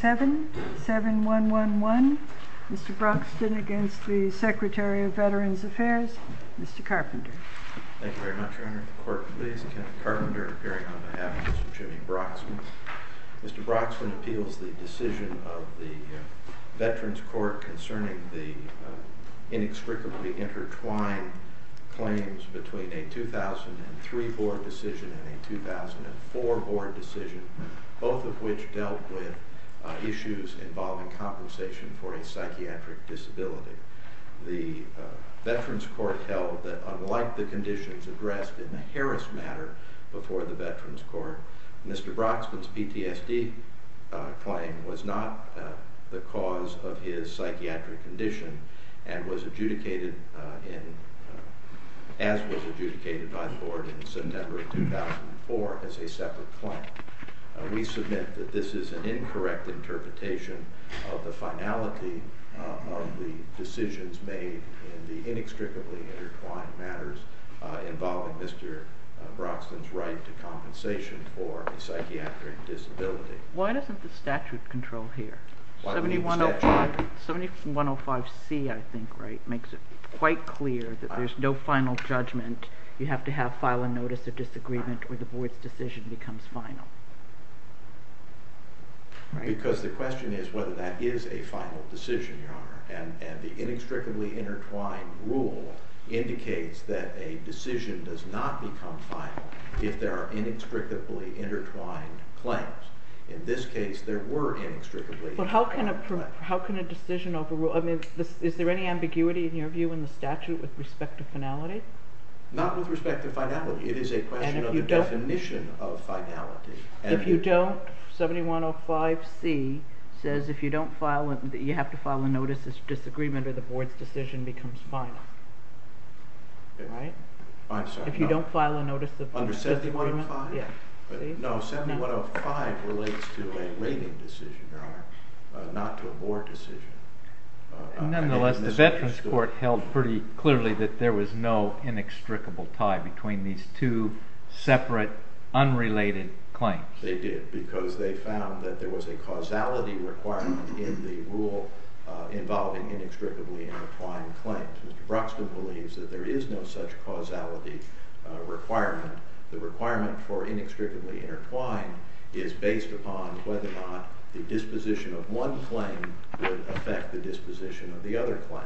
7-7111 Mr. Broxton against the Secretary of Veterans Affairs, Mr. Carpenter Thank you very much Your Honor. The court please. Kenneth Carpenter appearing on behalf of Mr. Jimmy Broxton. Mr. Broxton appeals the decision of the Veterans Court concerning the inextricably intertwined claims between a 2003 board decision and a 2004 board decision, both of which dealt with issues involving compensation for a psychiatric disability. The Veterans Court held that unlike the conditions addressed in the Harris matter before the Veterans Court, Mr. Broxton's PTSD claim was not the cause of his psychiatric condition and was adjudicated as was adjudicated by the board in September of 2004 as a separate claim. We submit that this is an incorrect interpretation of the finality of the decisions made in the inextricably intertwined matters involving Mr. Broxton's right to compensation for a psychiatric disability. Why doesn't the statute control here? 7105C I think makes it quite clear that there's no final judgment. You have to have file a notice of disagreement or the board's decision becomes final. Because the question is whether that is a final decision, Your Honor, and the inextricably intertwined rule indicates that a decision does not become final if there are inextricably intertwined claims. In this case, there were inextricably intertwined claims. But how can a decision overrule, I mean, is there any ambiguity in your view in the statute with respect to finality? Not with respect to finality. It is a question of the definition of finality. If you don't, 7105C says if you don't file, you have to file a notice of disagreement or the board's decision becomes final, right? I'm sorry. If you don't file a notice of disagreement. Under 7105? Yes. No, 7105 relates to a rating decision, Your Honor, not to a board decision. Nonetheless, the Veterans Court held pretty clearly that there was no inextricable tie between these two separate, unrelated claims. They did because they found that there was a causality requirement in the rule involving inextricably intertwined claims. Mr. Broxton believes that there is no such causality requirement. The requirement for inextricably intertwined is based upon whether or not the disposition of one claim would affect the disposition of the other claim.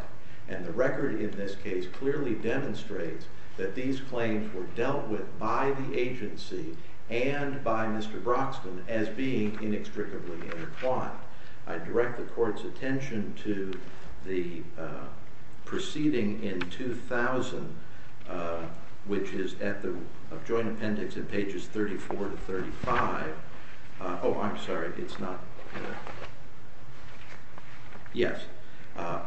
And the record in this case clearly demonstrates that these claims were dealt with by the agency and by Mr. Broxton as being inextricably intertwined. I direct the Court's attention to the proceeding in 2000, which is at the joint appendix in pages 34 to 35. Oh, I'm sorry, it's not here. Yes,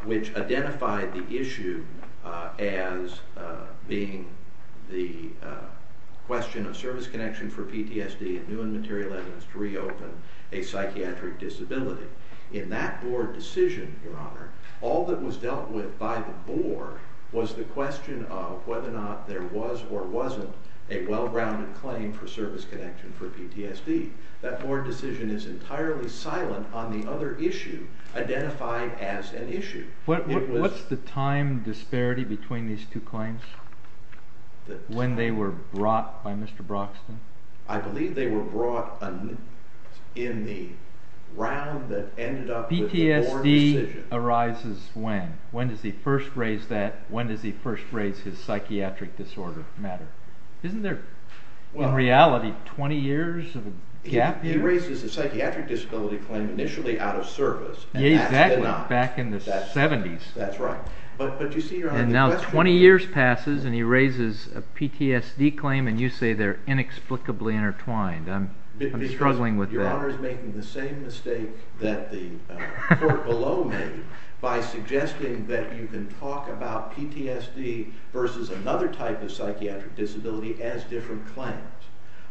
which identified the issue as being the question of service connection for PTSD and new and material evidence to reopen a psychiatric disability. In that board decision, Your Honor, all that was dealt with by the board was the question of whether or not there was or wasn't a well-rounded claim for service connection for PTSD. That board decision is entirely silent on the other issue identified as an issue. What's the time disparity between these two claims, when they were brought by Mr. Broxton? I believe they were brought in the round that ended up with the board decision. PTSD arises when? When does he first raise that? When does he first raise his psychiatric disorder matter? Isn't there, in reality, 20 years of a gap here? He raises a psychiatric disability claim initially out of service. Exactly, back in the 70s. That's right. And now 20 years passes and he raises a PTSD claim and you say they're inexplicably intertwined. I'm struggling with that. Your Honor is making the same mistake that the court below made by suggesting that you can talk about PTSD versus another type of psychiatric disability as different claims.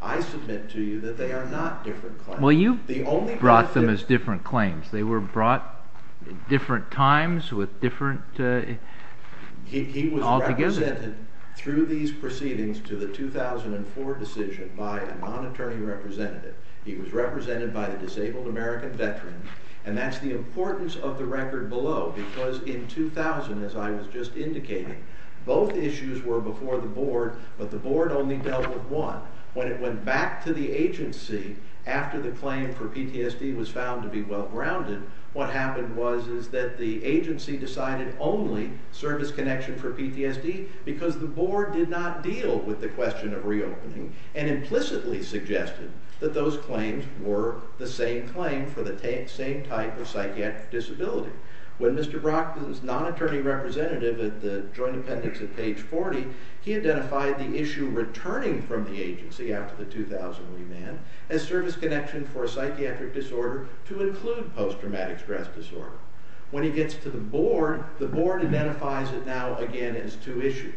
I submit to you that they are not different claims. Well, you brought them as different claims. They were brought at different times with different... He was represented through these proceedings to the 2004 decision by a non-attorney representative. He was represented by a disabled American veteran, and that's the importance of the record below. Because in 2000, as I was just indicating, both issues were before the board, but the board only dealt with one. When it went back to the agency after the claim for PTSD was found to be well-grounded, what happened was that the agency decided only service connection for PTSD, because the board did not deal with the question of reopening and implicitly suggested that those claims were the same claim for the same type of psychiatric disability. When Mr. Broxton's non-attorney representative at the joint appendix at page 40, he identified the issue returning from the agency after the 2000 remand as service connection for a psychiatric disorder to include post-traumatic stress disorder. When he gets to the board, the board identifies it now again as two issues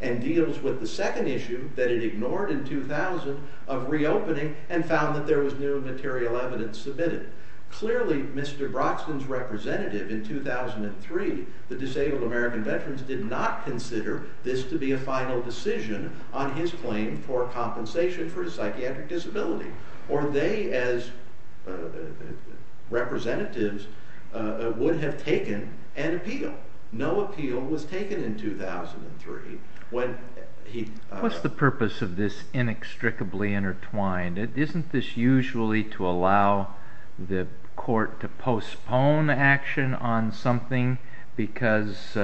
and deals with the second issue that it ignored in 2000 of reopening and found that there was new material evidence submitted. Clearly, Mr. Broxton's representative in 2003, the disabled American veterans, did not consider this to be a final decision on his claim for compensation for his psychiatric disability. Or they, as representatives, would have taken an appeal. No appeal was taken in 2003. What's the purpose of this inextricably intertwined? Isn't this usually to allow the court to postpone action on something because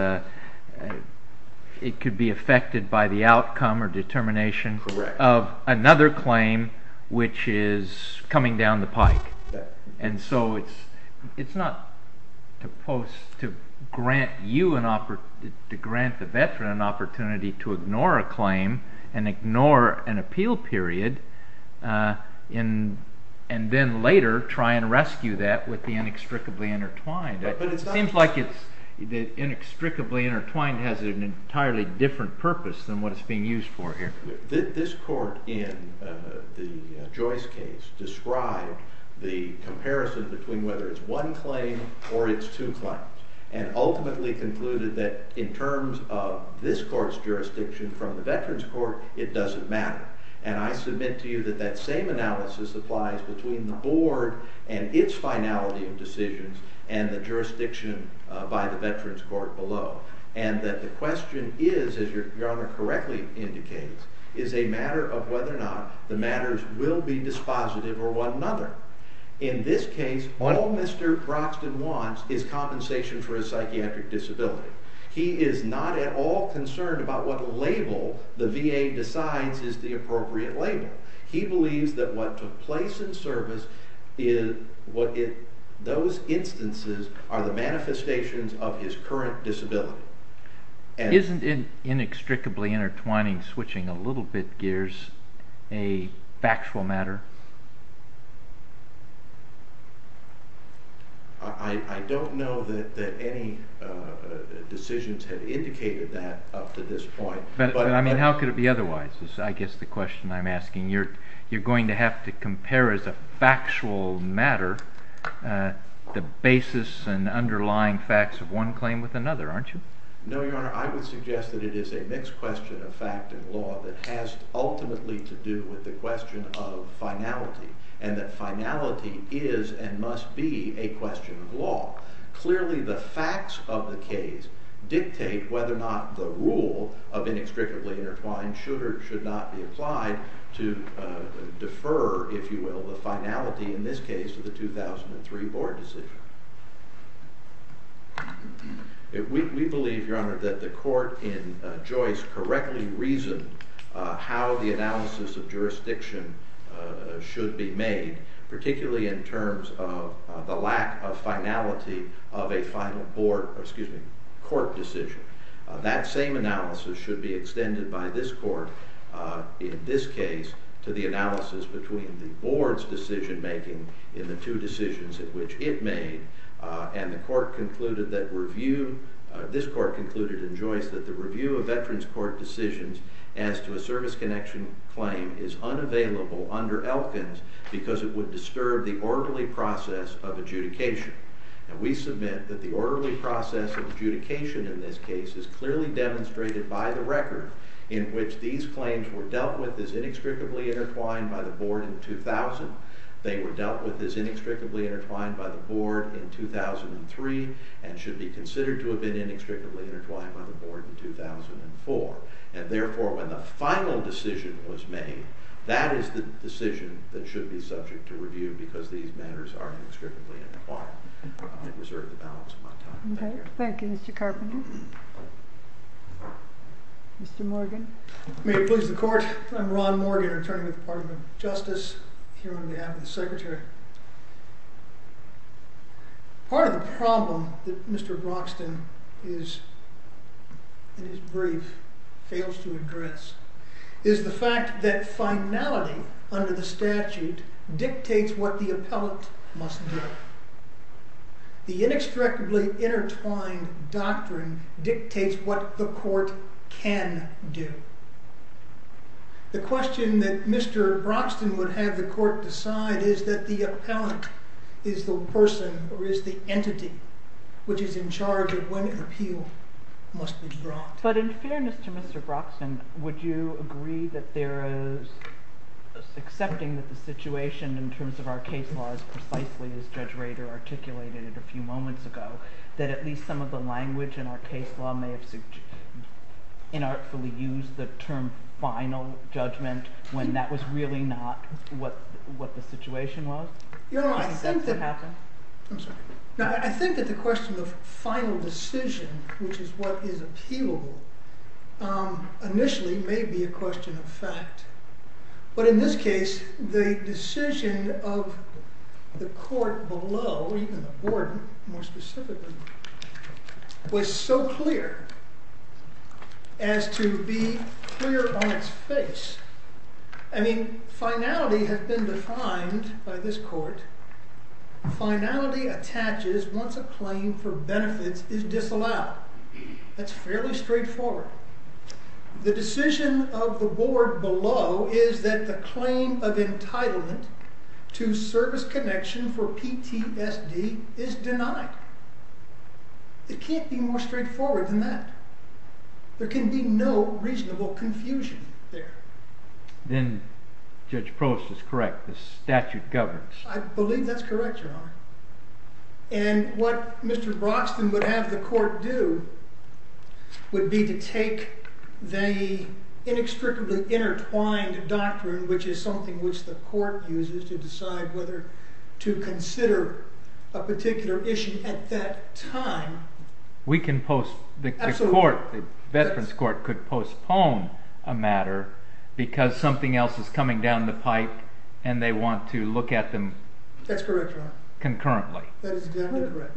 it could be affected by the outcome or determination of another claim which is coming down the pike? It's not to grant the veteran an opportunity to ignore a claim and ignore an appeal period and then later try and rescue that with the inextricably intertwined. It seems like the inextricably intertwined has an entirely different purpose than what is being used for here. This court in the Joyce case described the comparison between whether it's one claim or it's two claims and ultimately concluded that in terms of this court's jurisdiction from the veterans court, it doesn't matter. I submit to you that that same analysis applies between the board and its finality of decisions and the jurisdiction by the veterans court below. And that the question is, as your honor correctly indicates, is a matter of whether or not the matters will be dispositive or one another. In this case, all Mr. Droxton wants is compensation for his psychiatric disability. He is not at all concerned about what label the VA decides is the appropriate label. He believes that what took place in service, those instances are the manifestations of his current disability. Isn't inextricably intertwining, switching a little bit gears, a factual matter? I don't know that any decisions have indicated that up to this point. I mean, how could it be otherwise is I guess the question I'm asking. You're going to have to compare as a factual matter the basis and underlying facts of one claim with another, aren't you? No, your honor. I would suggest that it is a mixed question of fact and law that has ultimately to do with the question of finality and that finality is and must be a question of law. Clearly the facts of the case dictate whether or not the rule of inextricably intertwined should or should not be applied to defer, if you will, the finality in this case to the 2003 board decision. We believe, your honor, that the court in Joyce correctly reasoned how the analysis of jurisdiction should be made, particularly in terms of the lack of finality of a final court decision. That same analysis should be extended by this court in this case to the analysis between the board's decision making in the two decisions in which it made and the court concluded that review, this court concluded in Joyce, that the review of veterans court decisions as to a service connection claim is unavailable under Elkins because it would disturb the orderly process of adjudication. And we submit that the orderly process of adjudication in this case is clearly demonstrated by the record in which these claims were dealt with as inextricably intertwined by the board in 2000. They were dealt with as inextricably intertwined by the board in 2003 and should be considered to have been inextricably intertwined by the board in 2004. And therefore, when the final decision was made, that is the decision that should be subject to review because these matters are inextricably intertwined. I reserve the balance of my time. Thank you. Thank you, Mr. Carpenter. Mr. Morgan. May it please the court. I'm Ron Morgan, attorney with the Department of Justice, here on behalf of the secretary. Part of the problem that Mr. Broxton in his brief fails to address is the fact that finality under the statute dictates what the appellate must do. The inextricably intertwined doctrine dictates what the court can do. The question that Mr. Broxton would have the court decide is that the appellate is the person or is the entity which is in charge of when an appeal must be brought. But in fairness to Mr. Broxton, would you agree that there is, accepting that the situation in terms of our case law is precisely as Judge Rader articulated it a few moments ago, that at least some of the language in our case law may have inartfully used the term final judgment when that was really not what the situation was? I think that the question of final decision, which is what is appealable, initially may be a question of fact. But in this case, the decision of the court below, even the board more specifically, was so clear as to be clear on its face. I mean, finality has been defined by this court. Finality attaches once a claim for benefits is disallowed. That's fairly straightforward. The decision of the board below is that the claim of entitlement to service connection for PTSD is denied. It can't be more straightforward than that. There can be no reasonable confusion there. Then Judge Prost is correct. The statute governs. I believe that's correct, Your Honor. And what Mr. Broxton would have the court do would be to take the inextricably intertwined doctrine, which is something which the court uses to decide whether to consider a particular issue at that time. The Veterans Court could postpone a matter because something else is coming down the pipe and they want to look at them concurrently.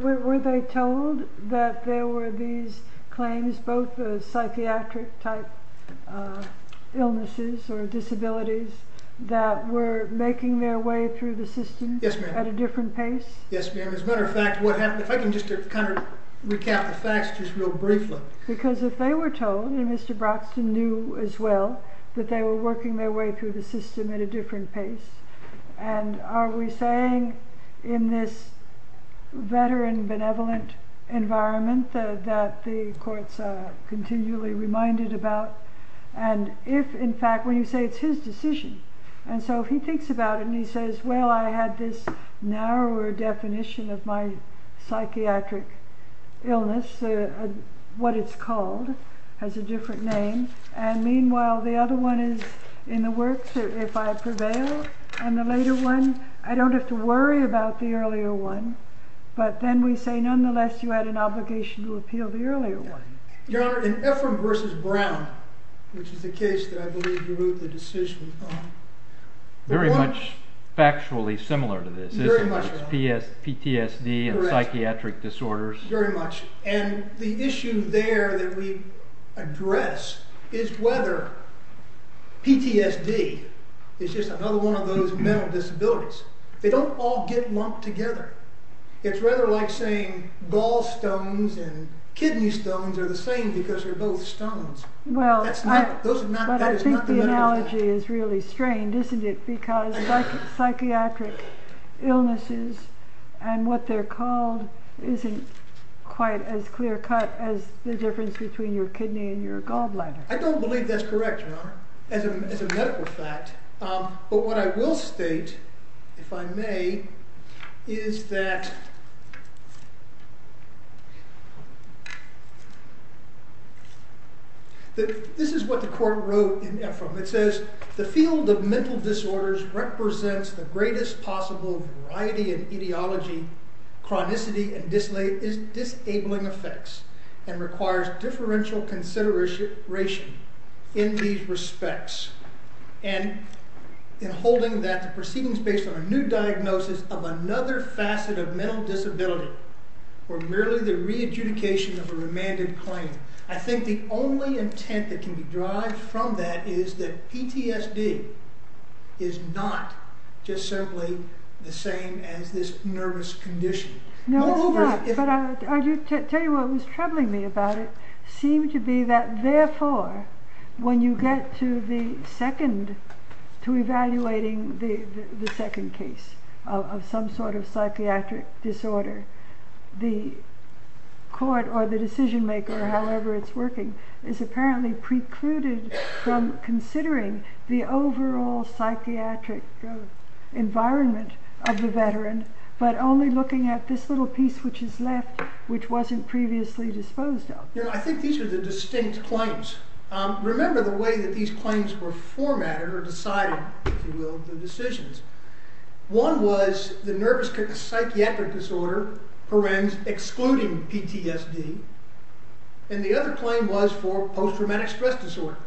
Were they told that there were these claims, both psychiatric-type illnesses or disabilities, that were making their way through the system at a different pace? Yes, ma'am. As a matter of fact, if I can just kind of recap the facts just real briefly. Because if they were told, and Mr. Broxton knew as well, that they were working their way through the system at a different pace. And are we saying in this veteran benevolent environment that the courts are continually reminded about? And if, in fact, when you say it's his decision, and so he thinks about it and he says, well, I had this narrower definition of my psychiatric illness, what it's called, has a different name. And meanwhile, the other one is in the works, if I prevail. And the later one, I don't have to worry about the earlier one. But then we say, nonetheless, you had an obligation to appeal the earlier one. Your Honor, in Ephraim v. Brown, which is the case that I believe you wrote the decision on. Very much factually similar to this, isn't it? Very much, Your Honor. PTSD and psychiatric disorders. Correct. Very much. And the issue there that we address is whether PTSD is just another one of those mental disabilities. They don't all get lumped together. It's rather like saying gall stones and kidney stones are the same because they're both stones. Well, I think the analogy is really strained, isn't it? Because psychiatric illnesses and what they're called isn't quite as clear cut as the difference between your kidney and your gallbladder. I don't believe that's correct, Your Honor, as a medical fact. But what I will state, if I may, is that this is what the court wrote in Ephraim. It says, the field of mental disorders represents the greatest possible variety in etiology, chronicity, and disabling effects and requires differential consideration in these respects. And in holding that the proceedings based on a new diagnosis of another facet of mental disability or merely the re-adjudication of a remanded claim, I think the only intent that can be derived from that is that PTSD is not just simply the same as this nervous condition. No, it's not. But I'll tell you what was troubling me about it. It seemed to be that, therefore, when you get to evaluating the second case of some sort of psychiatric disorder, the court or the decision maker, however it's working, is apparently precluded from considering the overall psychiatric environment of the veteran, but only looking at this little piece which is left, which wasn't previously disposed of. Your Honor, I think these are the distinct claims. Remember the way that these claims were formatted or decided, if you will, the decisions. One was the nervous psychiatric disorder, parens, excluding PTSD, and the other claim was for post-traumatic stress disorder.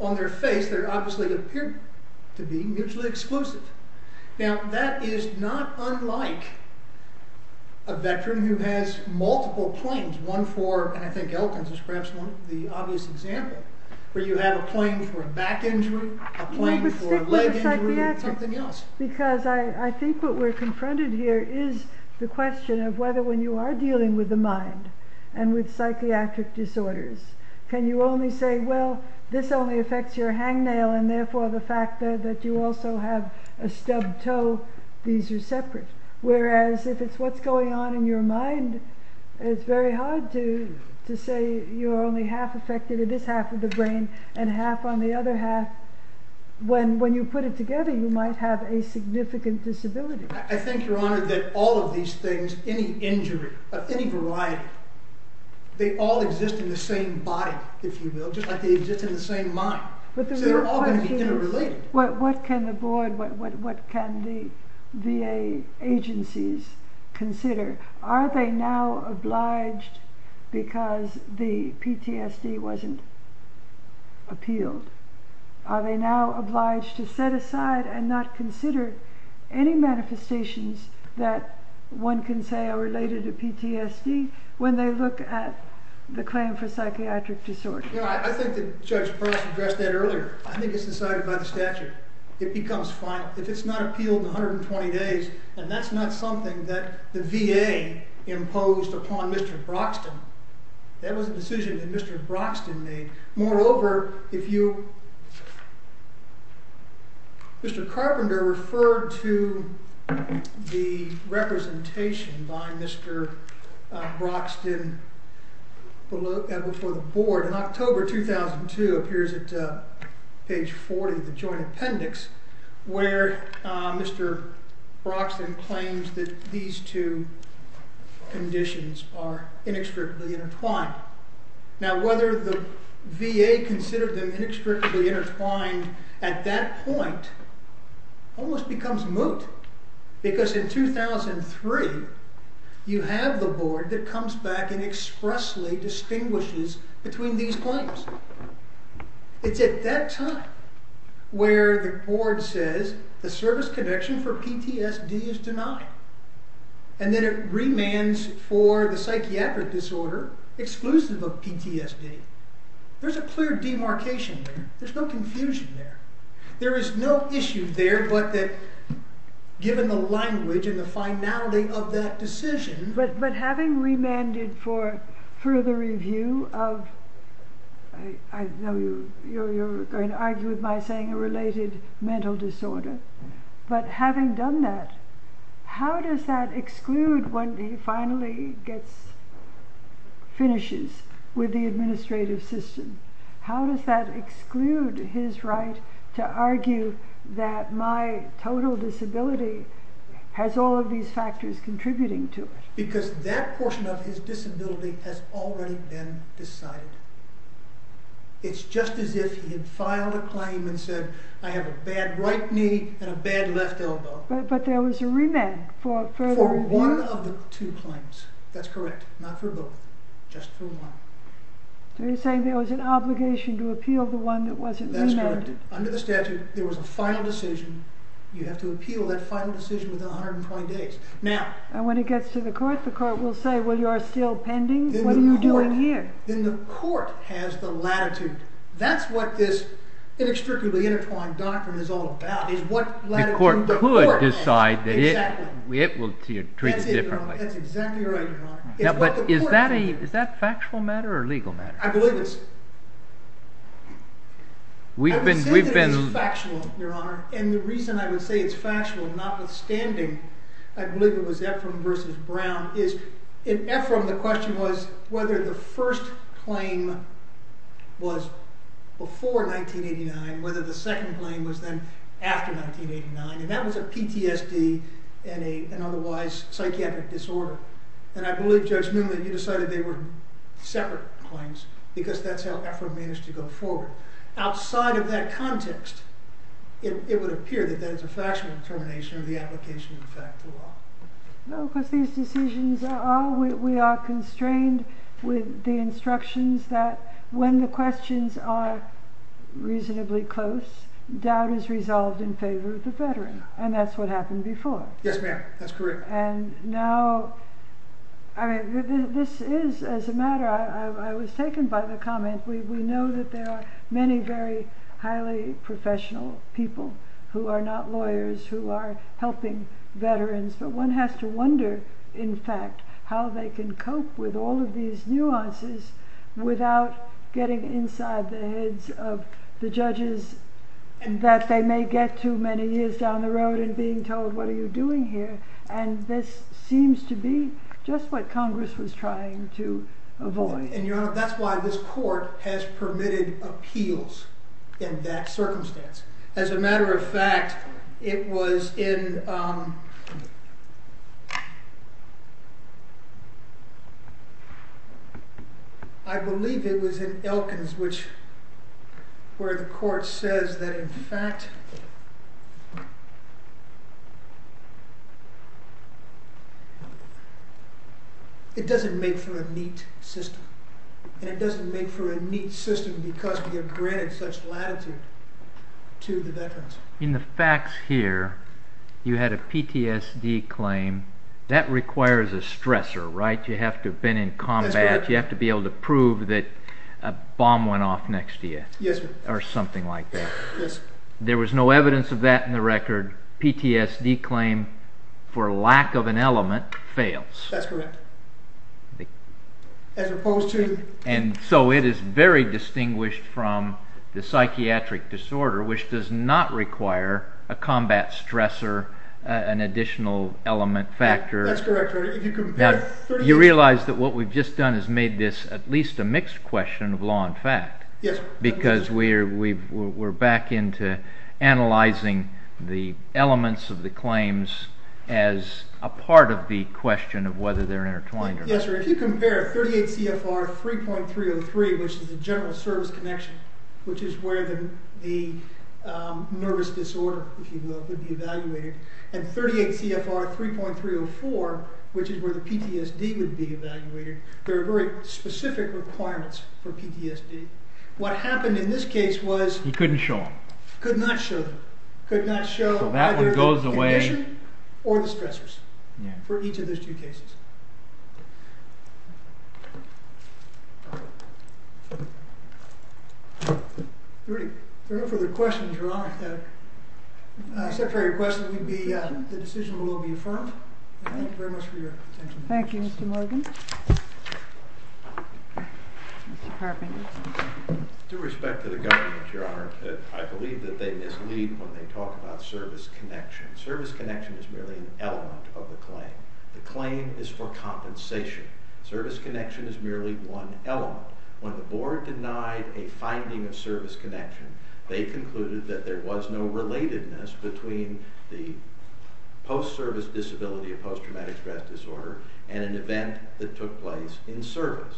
On their face, they obviously appeared to be mutually exclusive. Now, that is not unlike a veteran who has multiple claims. One for, and I think Elton describes the obvious example, where you have a claim for a back injury, a claim for a leg injury, or something else. Because I think what we're confronted here is the question of whether when you are dealing with the mind and with psychiatric disorders, can you only say, well, this only affects your hangnail and therefore the fact that you also have a stubbed toe, these are separate. Whereas, if it's what's going on in your mind, it's very hard to say you're only half affected in this half of the brain and half on the other half. When you put it together, you might have a significant disability. I think, Your Honor, that all of these things, any injury of any variety, they all exist in the same body, if you will, just like they exist in the same mind. So they're all going to be interrelated. What can the board, what can the VA agencies consider? Are they now obliged, because the PTSD wasn't appealed, are they now obliged to set aside and not consider any manifestations that one can say are related to PTSD when they look at the claim for psychiatric disorder? You know, I think that Judge Bress addressed that earlier. I think it's decided by the statute. It becomes final. If it's not appealed in 120 days, and that's not something that the VA imposed upon Mr. Broxton, that was a decision that Mr. Broxton made. Moreover, if you... Mr. Carpenter referred to the representation by Mr. Broxton before the board in October 2002, appears at page 40 of the joint appendix, where Mr. Broxton claims that these two conditions are inextricably intertwined. Now, whether the VA considered them inextricably intertwined at that point almost becomes moot, because in 2003, you have the board that comes back and expressly distinguishes between these claims. It's at that time where the board says the service connection for PTSD is denied, and then it remands for the psychiatric disorder exclusive of PTSD. There's a clear demarcation there. There's no confusion there. There is no issue there but that given the language and the finality of that decision... But having remanded for further review of... I know you're going to argue with my saying a related mental disorder, but having done that, how does that exclude when he finally gets... finishes with the administrative system? How does that exclude his right to argue that my total disability has all of these factors contributing to it? Because that portion of his disability has already been decided. It's just as if he had filed a claim and said, I have a bad right knee and a bad left elbow. But there was a remand for further review. For one of the two claims, that's correct, not for both, just for one. So you're saying there was an obligation to appeal the one that wasn't remanded. That's correct. Under the statute, there was a final decision. You have to appeal that final decision within 120 days. And when it gets to the court, the court will say, well, you're still pending, what are you doing here? Then the court has the latitude. That's what this inextricably intertwined doctrine is all about, is what latitude the court has. The court could decide that it will treat it differently. That's it, Your Honor. That's exactly right, Your Honor. But is that a factual matter or a legal matter? I believe it's... I would say that it is factual, Your Honor. And the reason I would say it's factual, notwithstanding, I believe it was Ephraim versus Brown, is in Ephraim, the question was whether the first claim was before 1989, whether the second claim was then after 1989. And that was a PTSD and an otherwise psychiatric disorder. And I believe, Judge Newman, you decided they were separate claims because that's how Ephraim managed to go forward. Outside of that context, it would appear that that is a factual determination of the application of the fact to law. No, because these decisions are... We are constrained with the instructions that when the questions are reasonably close, doubt is resolved in favor of the veteran. And that's what happened before. Yes, ma'am. That's correct. And now... I mean, this is, as a matter... I was taken by the comment. We know that there are many very highly professional people who are not lawyers, who are helping veterans, but one has to wonder, in fact, how they can cope with all of these nuances without getting inside the heads of the judges that they may get to many years down the road and being told, what are you doing here? And this seems to be just what Congress was trying to avoid. And, Your Honor, that's why this court has permitted appeals in that circumstance. As a matter of fact, it was in... I believe it was in Elkins, where the court says that, in fact... It doesn't make for a neat system. And it doesn't make for a neat system because we have granted such latitude. To the veterans. In the facts here, you had a PTSD claim. That requires a stressor, right? You have to have been in combat. You have to be able to prove that a bomb went off next to you. Yes, sir. Or something like that. Yes, sir. There was no evidence of that in the record. PTSD claim for lack of an element fails. That's correct. As opposed to... And so it is very distinguished from the psychiatric disorder, which does not require a combat stressor, an additional element factor. That's correct, Your Honor. You realize that what we've just done has made this at least a mixed question of law and fact. Yes, sir. Because we're back into analyzing the elements of the claims as a part of the question of whether they're intertwined or not. Yes, sir. If you compare 38 CFR 3.303, which is a general service connection, which is where the nervous disorder, if you will, would be evaluated, and 38 CFR 3.304, which is where the PTSD would be evaluated, there are very specific requirements for PTSD. What happened in this case was... You couldn't show them. Could not show them. Could not show either the condition or the stressors for each of those two cases. Thank you. If there are no further questions, Your Honor, the secretary requested that the decision will be affirmed. Thank you very much for your attention. Thank you, Mr. Morgan. Mr. Carping. With due respect to the government, Your Honor, I believe that they mislead when they talk about service connection. Service connection is merely an element of the claim. The claim is for compensation. Service connection is merely one element. When the board denied a finding of service connection, they concluded that there was no relatedness between the post-service disability of post-traumatic stress disorder and an event that took place in service.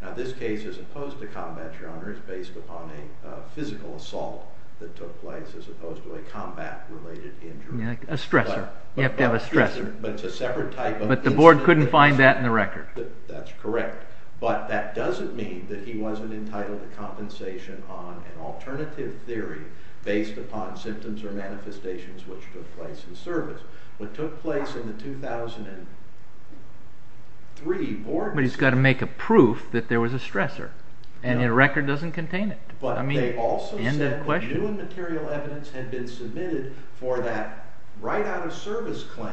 Now, this case, as opposed to combat, Your Honor, is based upon a physical assault that took place, as opposed to a combat-related injury. A stressor. You have to have a stressor. But the board couldn't find that in the record. That's correct. But that doesn't mean that he wasn't entitled to compensation on an alternative theory based upon symptoms or manifestations which took place in service. What took place in the 2003 board... But he's got to make a proof that there was a stressor. And the record doesn't contain it. But they also said that new and material evidence had been submitted for that write-out-of-service claim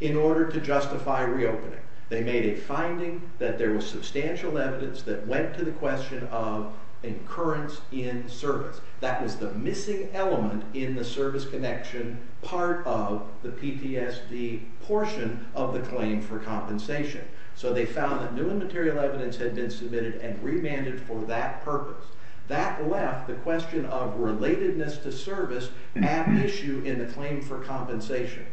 in order to justify reopening. They made a finding that there was substantial evidence that went to the question of incurrence in service. That was the missing element in the service connection part of the PTSD portion of the claim for compensation. So they found that new and material evidence had been submitted and remanded for that purpose. That left the question of relatedness to service an issue in the claim for compensation.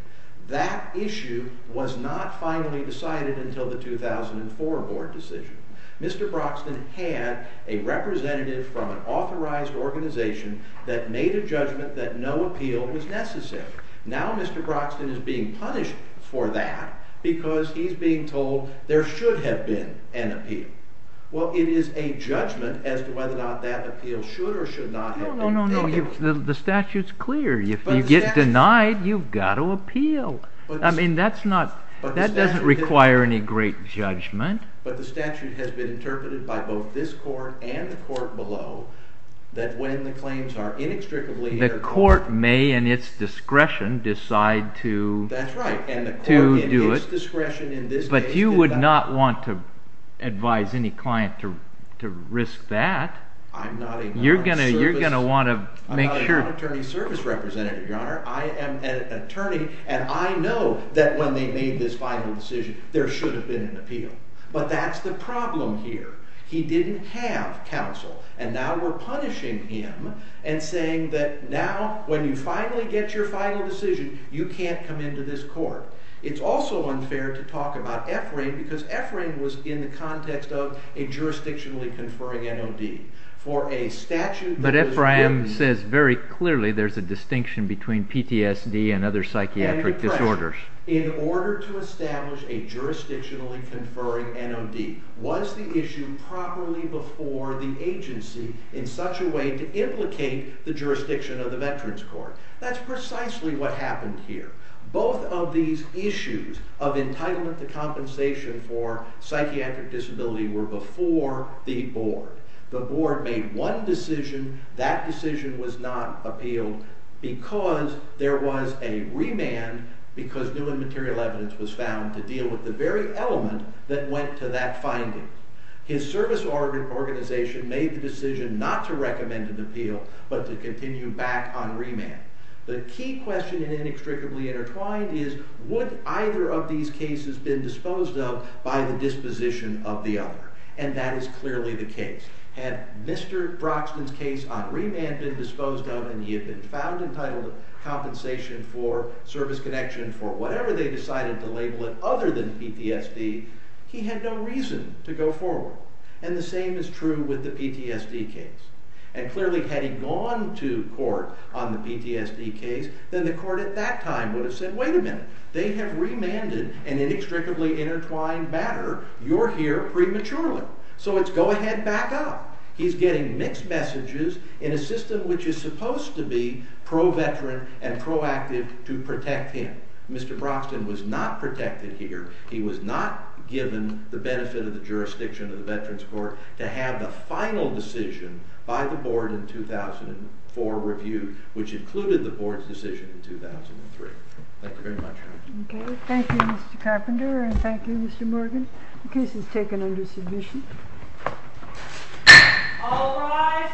That issue was not finally decided until the 2004 board decision. Mr. Broxton had a representative from an authorized organization that made a judgment that no appeal was necessary. Now Mr. Broxton is being punished for that because he's being told there should have been an appeal. Well, it is a judgment as to whether or not that appeal should or should not have been made. No, no, no. The statute's clear. If you get denied, you've got to appeal. I mean, that doesn't require any great judgment. But the statute has been interpreted by both this court and the court below that when the claims are inextricably intercourted... The court may, in its discretion, decide to do it. That's right. And the court, in its discretion, in this case... But you would not want to advise any client to risk that. I'm not a non-attorney service representative, Your Honor. I am an attorney, and I know that when they made this final decision there should have been an appeal. But that's the problem here. He didn't have counsel, and now we're punishing him and saying that now, when you finally get your final decision, you can't come into this court. It's also unfair to talk about Ephraim, because Ephraim was in the context of a jurisdictionally conferring NOD. But Ephraim says very clearly there's a distinction between PTSD and other psychiatric disorders. In order to establish a jurisdictionally conferring NOD, was the issue properly before the agency in such a way to implicate the jurisdiction of the Veterans Court? That's precisely what happened here. Both of these issues of entitlement to compensation for psychiatric disability were before the board. The board made one decision. That decision was not appealed because there was a remand, because new and material evidence was found to deal with the very element that went to that finding. His service organization made the decision not to recommend an appeal, but to continue back on remand. The key question in inextricably intertwined is would either of these cases been disposed of by the disposition of the other? And that is clearly the case. Had Mr. Broxton's case on remand been disposed of and he had been found entitled to compensation for service connection for whatever they decided to label it other than PTSD, he had no reason to go forward. And the same is true with the PTSD case. And clearly had he gone to court on the PTSD case, then the court at that time would have said, wait a minute, they have remanded an inextricably intertwined matter. You're here prematurely. So it's go ahead, back up. He's getting mixed messages in a system which is supposed to be pro-veteran and proactive to protect him. Mr. Broxton was not protected here. He was not given the benefit of the jurisdiction of the Veterans Court to have the final decision by the board in 2004 reviewed, which included the board's decision in 2003. Thank you very much. Thank you, Mr. Carpenter, and thank you, Mr. Morgan. The case is taken under submission. All rise.